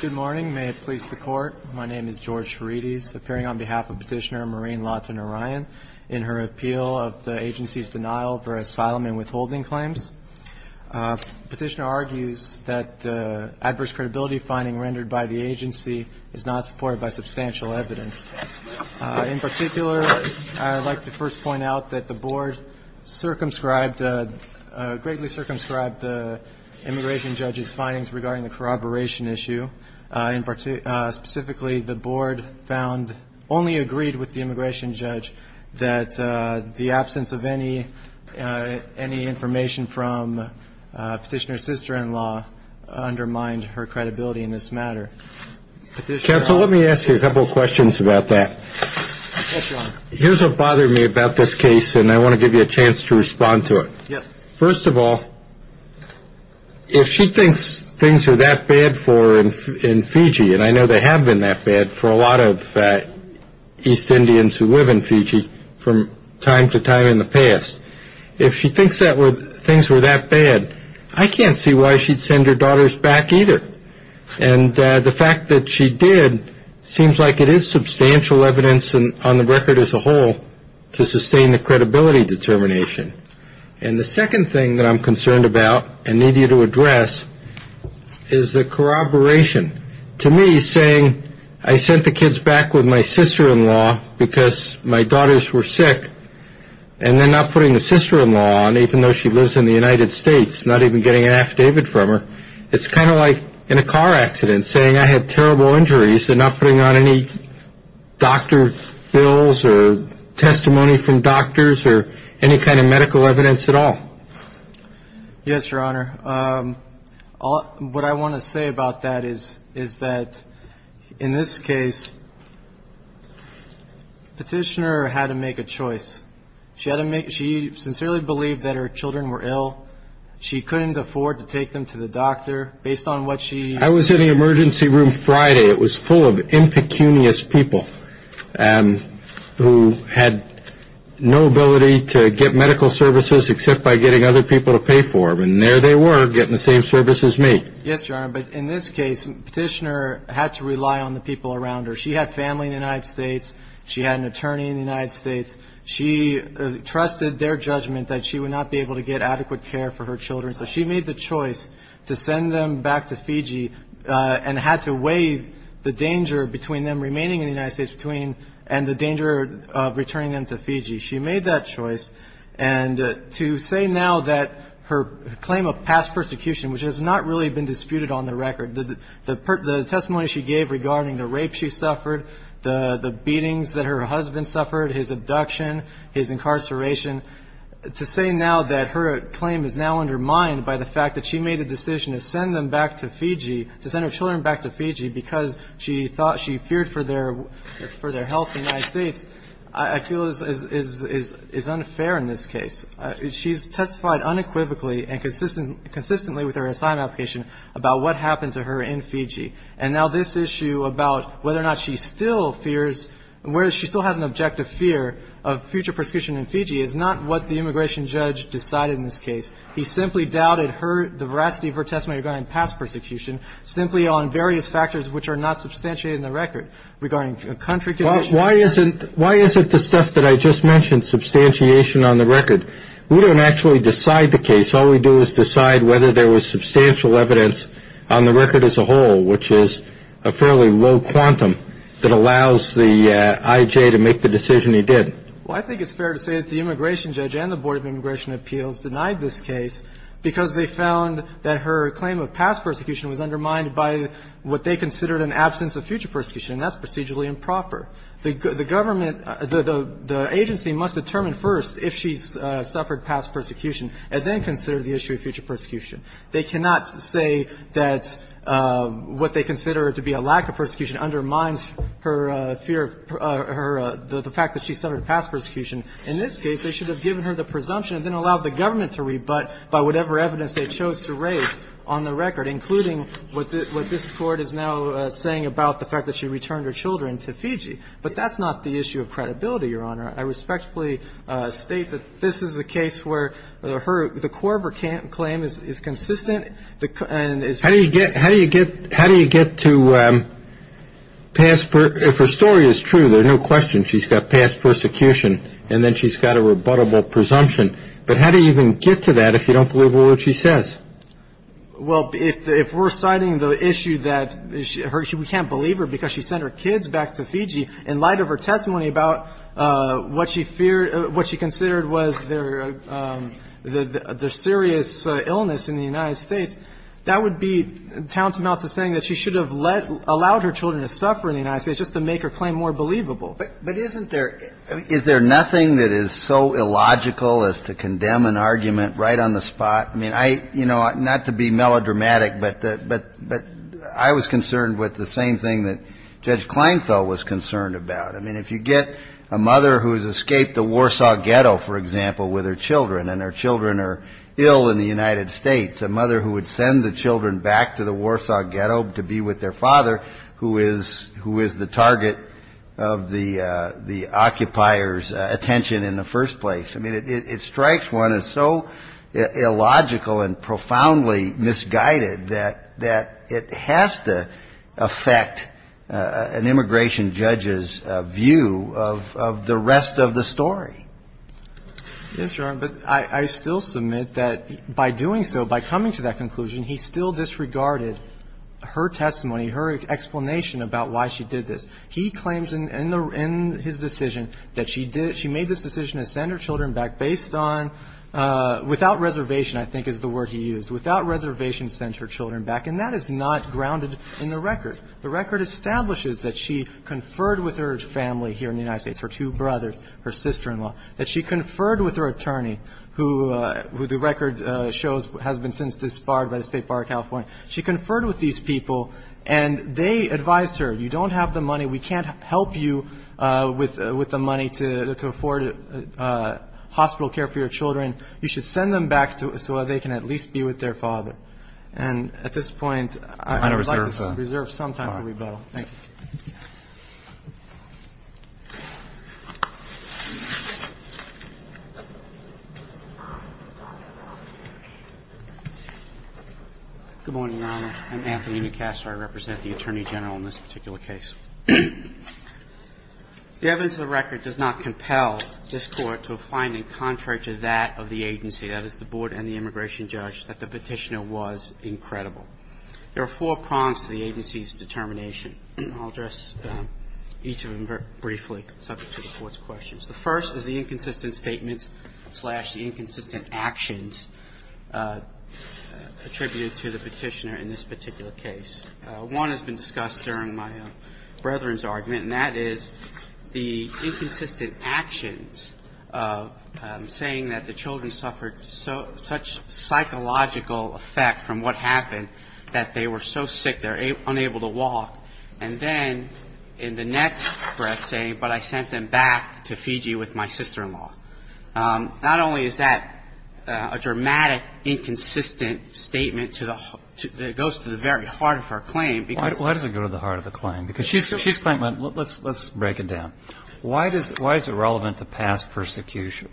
Good morning, may it please the court. My name is George Ferides, appearing on behalf of Petitioner Maureen Lawton-O'Ryan in her appeal of the agency's denial for asylum and withholding claims. Petitioner argues that the adverse credibility finding rendered by the agency is not supported by substantial evidence. In particular, I'd like to first point out that the board circumscribed, greatly circumscribed the immigration judge's findings regarding the corroboration issue. In particular, specifically, the board found, only agreed with the immigration judge, that the absence of any, any information from Petitioner's sister-in-law undermined her credibility in this matter. Petitioner... Counsel, let me ask you a couple questions about that. Here's what bothered me about this case and I want to give you a chance to respond to it. First of all, if she thinks things were that bad for her in Fiji, and I know they have been that bad for a lot of East Indians who live in Fiji from time to time in the past, if she thinks that were, things were that bad, I can't see why she'd send her daughters back either. And the fact that she did seems like it is substantial evidence on the record as a whole to sustain the credibility determination. And the second thing that I'm concerned about, and need you to address, is the corroboration. To me, saying I sent the kids back with my sister-in-law because my daughters were sick, and then not putting the sister-in-law on, even though she lives in the United States, not even getting an affidavit from her, it's kind of like in a car not putting on any doctor bills or testimony from doctors or any kind of medical evidence at all. Yes, Your Honor. What I want to say about that is that in this case, Petitioner had to make a choice. She sincerely believed that her children were ill. She couldn't afford to take them to the doctor based on what she... I was in the emergency room Friday. It was full of impecunious people who had no ability to get medical services except by getting other people to pay for them. And there they were getting the same services as me. Yes, Your Honor. But in this case, Petitioner had to rely on the people around her. She had family in the United States. She had an attorney in the United States. She trusted their judgment that she would not be able to get adequate care for her children. So she made the choice to send them back to Fiji and had to weigh the danger between them remaining in the United States between and the danger of returning them to Fiji. She made that choice. And to say now that her claim of past persecution, which has not really been disputed on the record, the testimony she gave regarding the rape she suffered, the beatings that her husband suffered, his abduction, his decision to send them back to Fiji, to send her children back to Fiji because she thought she feared for their health in the United States, I feel is unfair in this case. She's testified unequivocally and consistently with her assignment application about what happened to her in Fiji. And now this issue about whether or not she still fears, whether she still has an objective fear of future persecution in Fiji is not what the immigration judge decided in this case. He simply doubted the veracity of her testimony regarding past persecution simply on various factors which are not substantiated in the record regarding country conditions. Why isn't the stuff that I just mentioned substantiation on the record? We don't actually decide the case. All we do is decide whether there was substantial evidence on the record as a whole, which is a fairly low quantum that allows the I.J. to make the decision he did. Well, I think it's fair to say that the immigration judge and the Board of Immigration Appeals denied this case because they found that her claim of past persecution was undermined by what they considered an absence of future persecution. And that's procedurally improper. The government, the agency must determine first if she's suffered past persecution and then consider the issue of future persecution. They cannot say that what they consider to be a lack of persecution undermines her fear of her, the fact that she suffered past persecution. In this case, they should have given her the presumption and then allowed the government to rebut by whatever evidence they chose to raise on the record, including what this court is now saying about the fact that she returned her children to Fiji. But that's not the issue of credibility, Your Honor. I respectfully state that this is a case where the core of her claim is consistent. How do you get to pass? If her story is true, there's no question she's got past persecution and then she's got a rebuttable presumption. But how do you even get to that if you don't believe what she says? Well, if we're citing the issue that we can't believe her because she sent her kids back to Fiji in light of her testimony about what she feared, what she considered was their serious illness in the United States, that would be tantamount to saying that she should have allowed her children to suffer in the United States just to make her claim more believable. But isn't there – is there nothing that is so illogical as to condemn an argument right on the spot? I mean, I – you know, not to be melodramatic, but I was concerned with the same thing that Judge Kleinfeld was concerned about. I mean, if you get a mother who has escaped the Warsaw Ghetto, for example, with her children and her children are ill in the United States, a mother who would send the children back to the Warsaw Ghetto to be with their father, who is – who is the target of the – the occupier's attention in the first place, I mean, it – it strikes one as so illogical and profoundly misguided that – that it has to affect an immigration judge's view of – of the rest of the story. Yes, Your Honor, but I – I still submit that by doing so, by coming to that conclusion, he still disregarded her testimony, her explanation about why she did this. He claims in the – in his decision that she did – she made this decision to send her children back based on – without reservation, I think, is the word he used. Without reservation, sent her children back. And that is not grounded in the record. The record establishes that she conferred with her family here in the United States, her two brothers, her sister-in-law, that she conferred with her attorney, who – who the record shows has been since disbarred by the State Bar of California. She conferred with these people, and they advised her, you don't have the money, we can't help you with – with the money to – to afford hospital care for your children. You should send them back to – so that they can at least be with their father. And at this point, I would like to reserve some time for rebuttal. Thank you. Good morning, Your Honor. I'm Anthony Newcastle. I represent the Attorney General in this particular case. The evidence of the record does not compel this Court to a finding contrary to that of the agency, that is, the board and the immigration judge, that the Petitioner was incredible. There are four prongs to the agency's determination. I'll address each of them very briefly, subject to the Court's questions. The first is the inconsistent statements slash the inconsistent actions attributed to the Petitioner in this particular case. One has been discussed during my brethren's argument, and that is the inconsistent actions of saying that the children suffered so – such psychological effect from what happened that they were so sick, they're unable to walk. And then, in the next breath, saying, but I sent them back to Fiji with my sister-in-law. Not only is that a dramatic, inconsistent statement to the – that goes to the very heart of her claim, because – Why does it go to the heart of the claim? Because she's – she's claimed – let's break it down. Why does – why is it relevant to past persecution?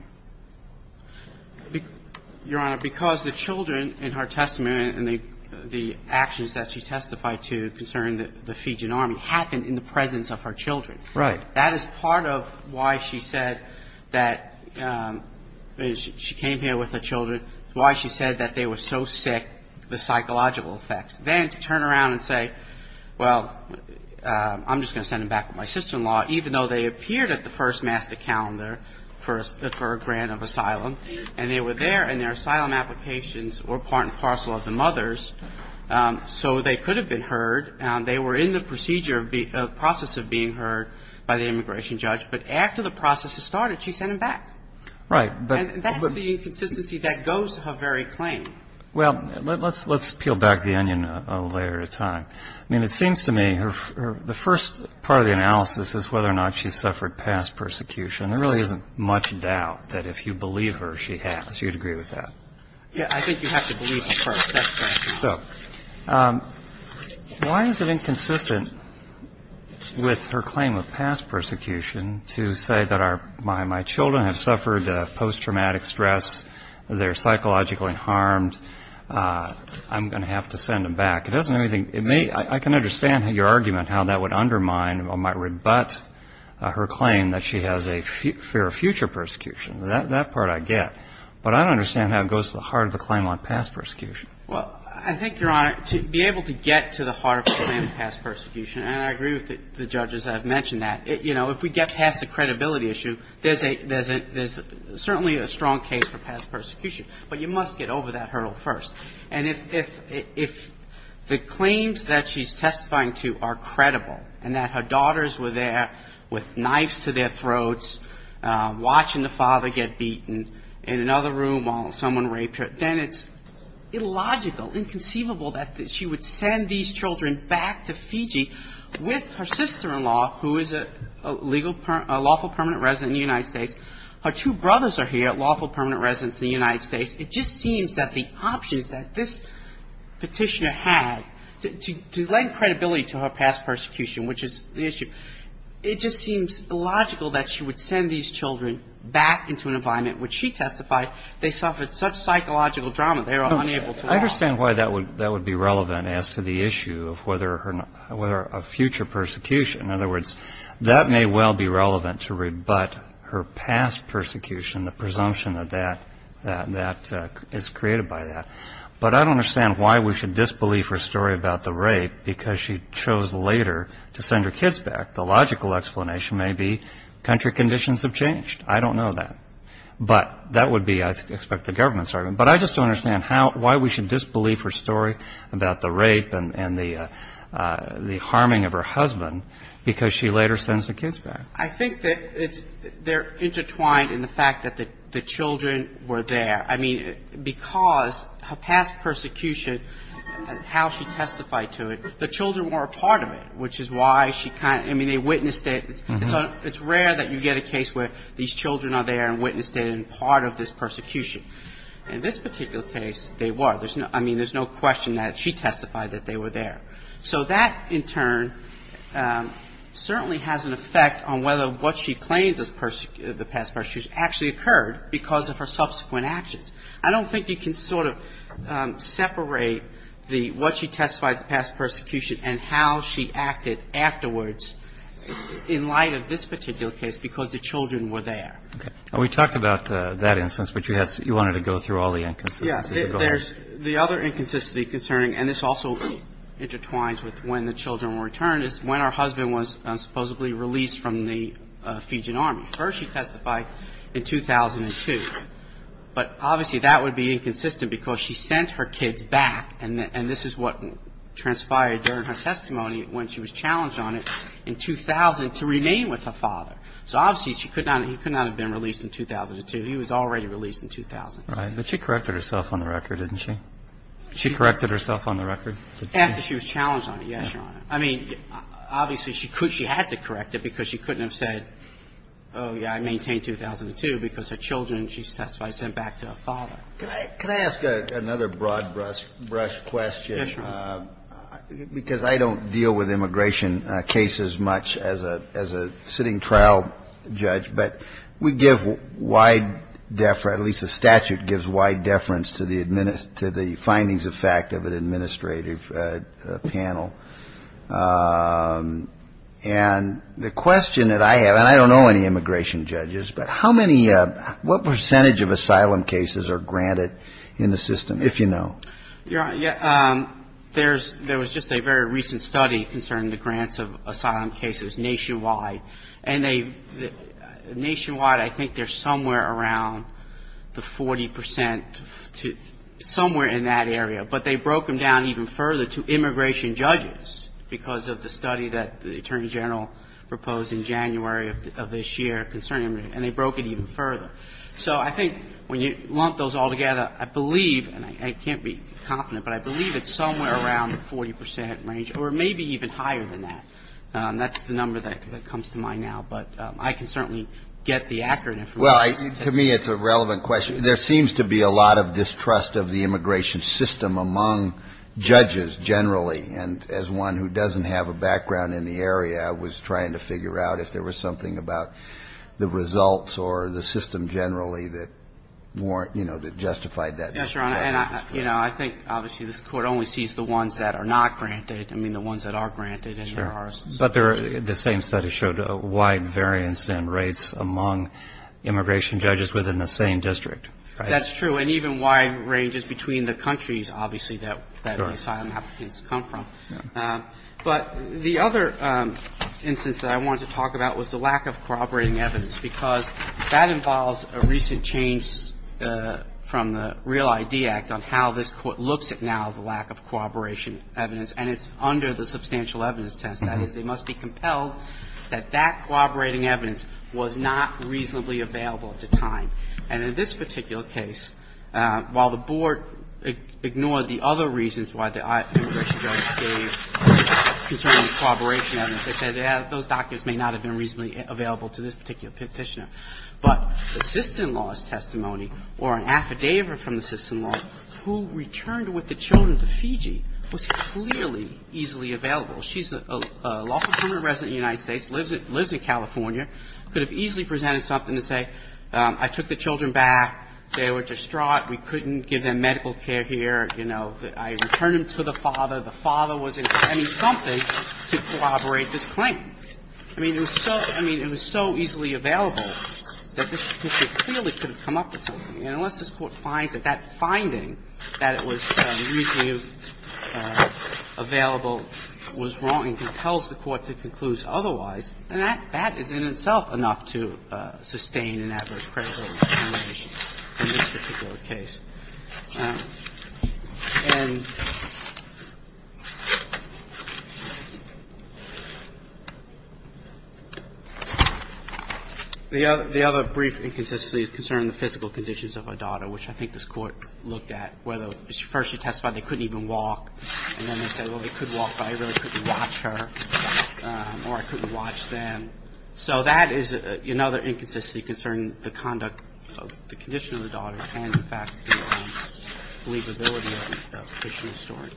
Your Honor, because the children in her testimony and the actions that she testified to concerning the Fijian Army happened in the presence of her children. Right. That is part of why she said that – she came here with her children, why she said that they were so sick, the psychological effects. Then to turn around and say, well, I'm just going to send them back with my sister-in-law, even though they appeared at the first master calendar for a grant of asylum, and they were there, and their children were being heard, and they were in the procedure – process of being heard by the immigration judge. But after the process had started, she sent them back. Right. And that's the inconsistency that goes to her very claim. Well, let's – let's peel back the onion a layer at a time. I mean, it seems to me her – the first part of the analysis is whether or not she suffered past persecution. There really isn't much doubt that if you believe her, she has. You'd agree with that? Yeah, I think you have to believe the first – that's correct. So why is it inconsistent with her claim of past persecution to say that our – my children have suffered post-traumatic stress, they're psychologically harmed, I'm going to have to send them back? It doesn't really – it may – I can understand your argument how that would undermine or might rebut her claim that she has a fear of future persecution. That part I get. But I don't understand how it goes to the heart of the claim on past persecution. Well, I think, Your Honor, to be able to get to the heart of the claim on past persecution, and I agree with the judges that have mentioned that, you know, if we get past the credibility issue, there's a – there's a – there's certainly a strong case for past persecution. But you must get over that hurdle first. And if – if the claims that she's testifying to are credible and that her daughters were there with knives to their throats, watching the father get killed, someone rape her, then it's illogical, inconceivable that she would send these children back to Fiji with her sister-in-law, who is a legal – a lawful permanent resident in the United States. Her two brothers are here, lawful permanent residents in the United States. It just seems that the options that this petitioner had to – to lend credibility to her past persecution, which is the issue, it just seems illogical that she would send these children back into an environment in which she testified they suffered such psychological trauma they were unable to walk. I understand why that would – that would be relevant as to the issue of whether her – whether a future persecution – in other words, that may well be relevant to rebut her past persecution, the presumption that that – that is created by that. But I don't understand why we should disbelieve her story about the rape because she chose later to send her kids back. The logical explanation may be country conditions have changed. I don't know that. But that would be, I expect, the government's argument. But I just don't understand how – why we should disbelieve her story about the rape and the harming of her husband because she later sends the kids back. I think that it's – they're intertwined in the fact that the children were there. I mean, because her past persecution, how she testified to it, the children were a part of it, which is why she kind of – I mean, they witnessed it. So it's rare that you get a case where these children are there and witnessed it and part of this persecution. In this particular case, they were. I mean, there's no question that she testified that they were there. So that, in turn, certainly has an effect on whether what she claims as the past persecution actually occurred because of her subsequent actions. I don't think you can sort of separate the – what she testified to past persecution and how she acted afterwards in light of this particular case because the children were there. Okay. And we talked about that instance, but you wanted to go through all the inconsistencies. Yes. There's – the other inconsistency concerning – and this also intertwines with when the children were returned – is when our husband was supposedly released from the Fijian army. First, she testified in 2002. But obviously, that would be inconsistent because she sent her kids back and this is what transpired during her testimony when she was challenged on it in 2000 to remain with her father. So obviously, she could not – he could not have been released in 2002. He was already released in 2000. Right. But she corrected herself on the record, didn't she? She corrected herself on the record? After she was challenged on it, yes, Your Honor. I mean, obviously, she could – she had to correct it because she couldn't have said, oh, yeah, I maintained 2002 because her children, she testified, sent back to her father. Could I ask another broad-brush question? Yes, Your Honor. Because I don't deal with immigration cases much as a sitting trial judge, but we give wide – at least the statute gives wide deference to the findings of fact of an administrative panel. And the question that I have – and I don't know any immigration judges, but how many – what percentage of asylum cases are granted in the system, if you know? Your Honor, there was just a very recent study concerning the grants of asylum cases nationwide. And nationwide, I think they're somewhere around the 40 percent, somewhere in that area. But they broke them down even further to immigration judges because of the study that the Attorney General proposed in January of this year concerning – and they broke it even further. So I think when you lump those all together, I believe – and I can't be confident, but I believe it's somewhere around the 40 percent range or maybe even higher than that. That's the number that comes to mind now. But I can certainly get the accurate information. Well, to me, it's a relevant question. There seems to be a lot of distrust of the immigration system among judges generally. And as one who doesn't have a background in the area, I was trying to figure out if there was something about the results or the system generally that justified that distrust. Yes, Your Honor. And I think, obviously, this Court only sees the ones that are not granted, I mean, the ones that are granted. Sure. But the same study showed a wide variance in rates among immigration judges within the same district. That's true. And even wide ranges between the countries, obviously, that asylum applicants come from. But the other instance that I wanted to talk about was the lack of corroborating evidence, because that involves a recent change from the Real ID Act on how this Court looks at now the lack of corroboration evidence, and it's under the substantial evidence test. That is, they must be compelled that that corroborating evidence was not reasonably available at the time. And in this particular case, while the Board ignored the other reasons why the immigration judge gave concerning corroboration evidence, they said those documents may not have been reasonably available to this particular petitioner. But the sister-in-law's testimony or an affidavit from the sister-in-law who returned with the children to Fiji was clearly easily available. She's a lawful permanent resident of the United States, lives in California, could have easily presented something to say, I took the children back, they were distraught, we couldn't give them medical care here, you know, I returned them to the father, the father was in need of something to corroborate this claim. I mean, it was so – I mean, it was so easily available that this petitioner clearly could have come up with something. And unless this Court finds that that finding, that it was reasonably available was wrong and compels the Court to conclude otherwise, then that is in itself enough to sustain an adverse credibility challenge in this particular case. And the other brief inconsistency concerning the physical conditions of a daughter, which I think this Court looked at, whether first she testified they couldn't even walk, and then they said, well, they could walk, but I really couldn't watch her or I couldn't watch them. So that is another inconsistency concerning the conduct, the condition of the daughter and, in fact, the believability of the petitioner's story.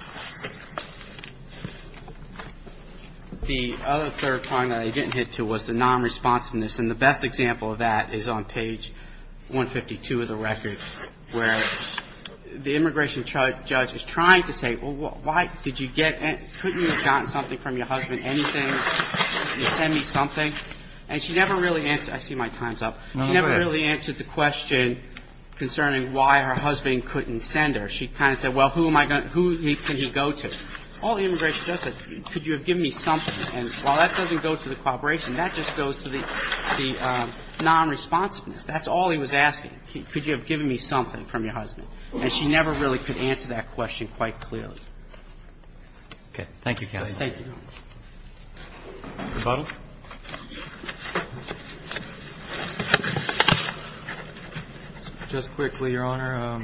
The other third point that I didn't hit to was the non-responsiveness. And the best example of that is on page 152 of the record, where the immigration judge is trying to say, well, why did you get – couldn't you have gotten something from your husband, anything? Can you send me something? And she never really – I see my time's up. She never really answered the question concerning why her husband couldn't send her. She kind of said, well, who am I going to – who can he go to? All the immigration judge said, could you have given me something? And while that doesn't go to the cooperation, that just goes to the non-responsiveness. That's all he was asking. Could you have given me something from your husband? And she never really could answer that question quite clearly. Okay. Thank you, counsel. Thank you. Rebuttal. Just quickly, Your Honor.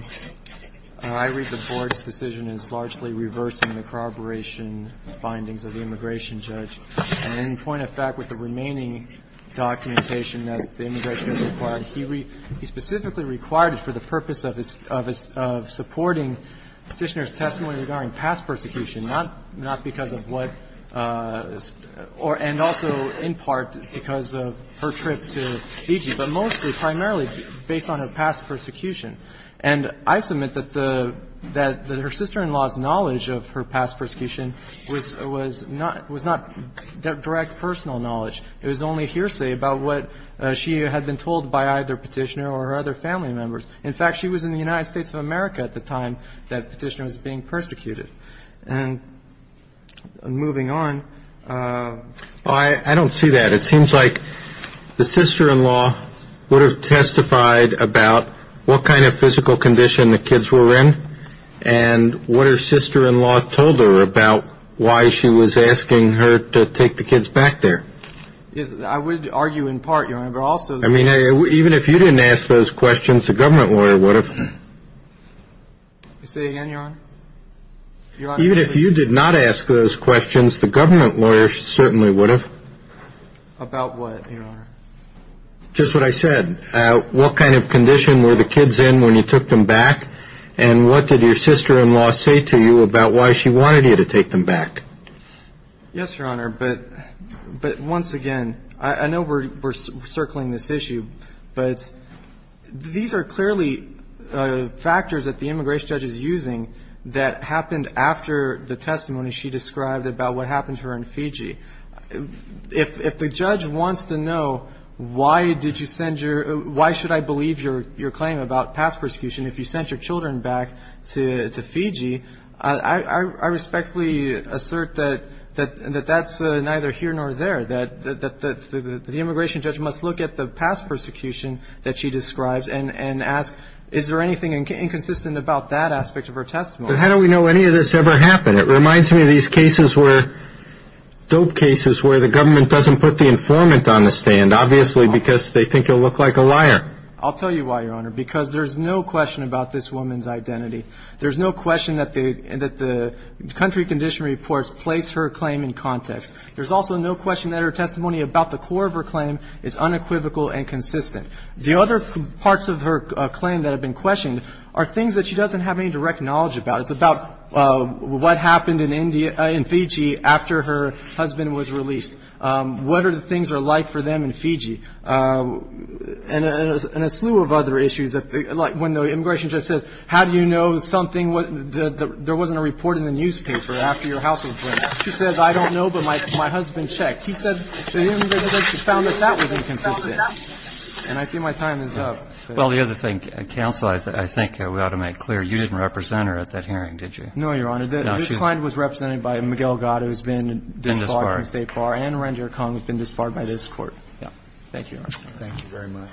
I read the Board's decision as largely reversing the corroboration findings of the immigration judge. And in point of fact, with the remaining documentation that the immigration judge required, he specifically required it for the purpose of supporting Petitioner's testimony regarding past persecution, not because of what the – and also in part because of her trip to Fiji, but mostly primarily based on her past persecution. And I submit that the – that her sister-in-law's knowledge of her past persecution was not direct personal knowledge. It was only hearsay about what she had been told by either Petitioner or her other family members. In fact, she was in the United States of America at the time that Petitioner was being persecuted. And moving on. I don't see that. It seems like the sister-in-law would have testified about what kind of physical condition the kids were in and what her sister-in-law told her about why she was asking her to take the kids back there. I would argue in part, Your Honor, but also – I mean, even if you didn't ask those questions, the government lawyer would have. Say again, Your Honor. Even if you did not ask those questions, the government lawyer certainly would have. About what, Your Honor? Just what I said. What kind of condition were the kids in when you took them back and what did your sister-in-law say to you about why she wanted you to take them back? Yes, Your Honor. But once again, I know we're circling this issue, but these are clearly factors that the immigration judge is using that happened after the testimony she described about what happened to her in Fiji. If the judge wants to know why did you send your – why should I believe your claim about past persecution if you sent your children back to Fiji, I respectfully assert that that's neither here nor there, that the immigration judge must look at the past persecution that she describes and ask, is there anything inconsistent about that aspect of her testimony? But how do we know any of this ever happened? It reminds me of these cases where – dope cases where the government doesn't put the informant on the stand, obviously because they think you'll look like a liar. I'll tell you why, Your Honor, because there's no question about this woman's identity. There's no question that the country condition reports place her claim in context. There's also no question that her testimony about the core of her claim is unequivocal and consistent. The other parts of her claim that have been questioned are things that she doesn't have any direct knowledge about. It's about what happened in Fiji after her husband was released. What are the things are like for them in Fiji? And a slew of other issues, like when the immigration judge says, how do you know something – there wasn't a report in the newspaper after your house was burned. She says, I don't know, but my husband checked. He said the immigration judge found that that was inconsistent. And I see my time is up. Well, the other thing, counsel, I think we ought to make clear, you didn't represent her at that hearing, did you? No, Your Honor. This client was represented by Miguel Gado, who's been disbarred from State Bar, and Ranjer Kong, who's been disbarred by this Court. Thank you, Your Honor. Thank you very much.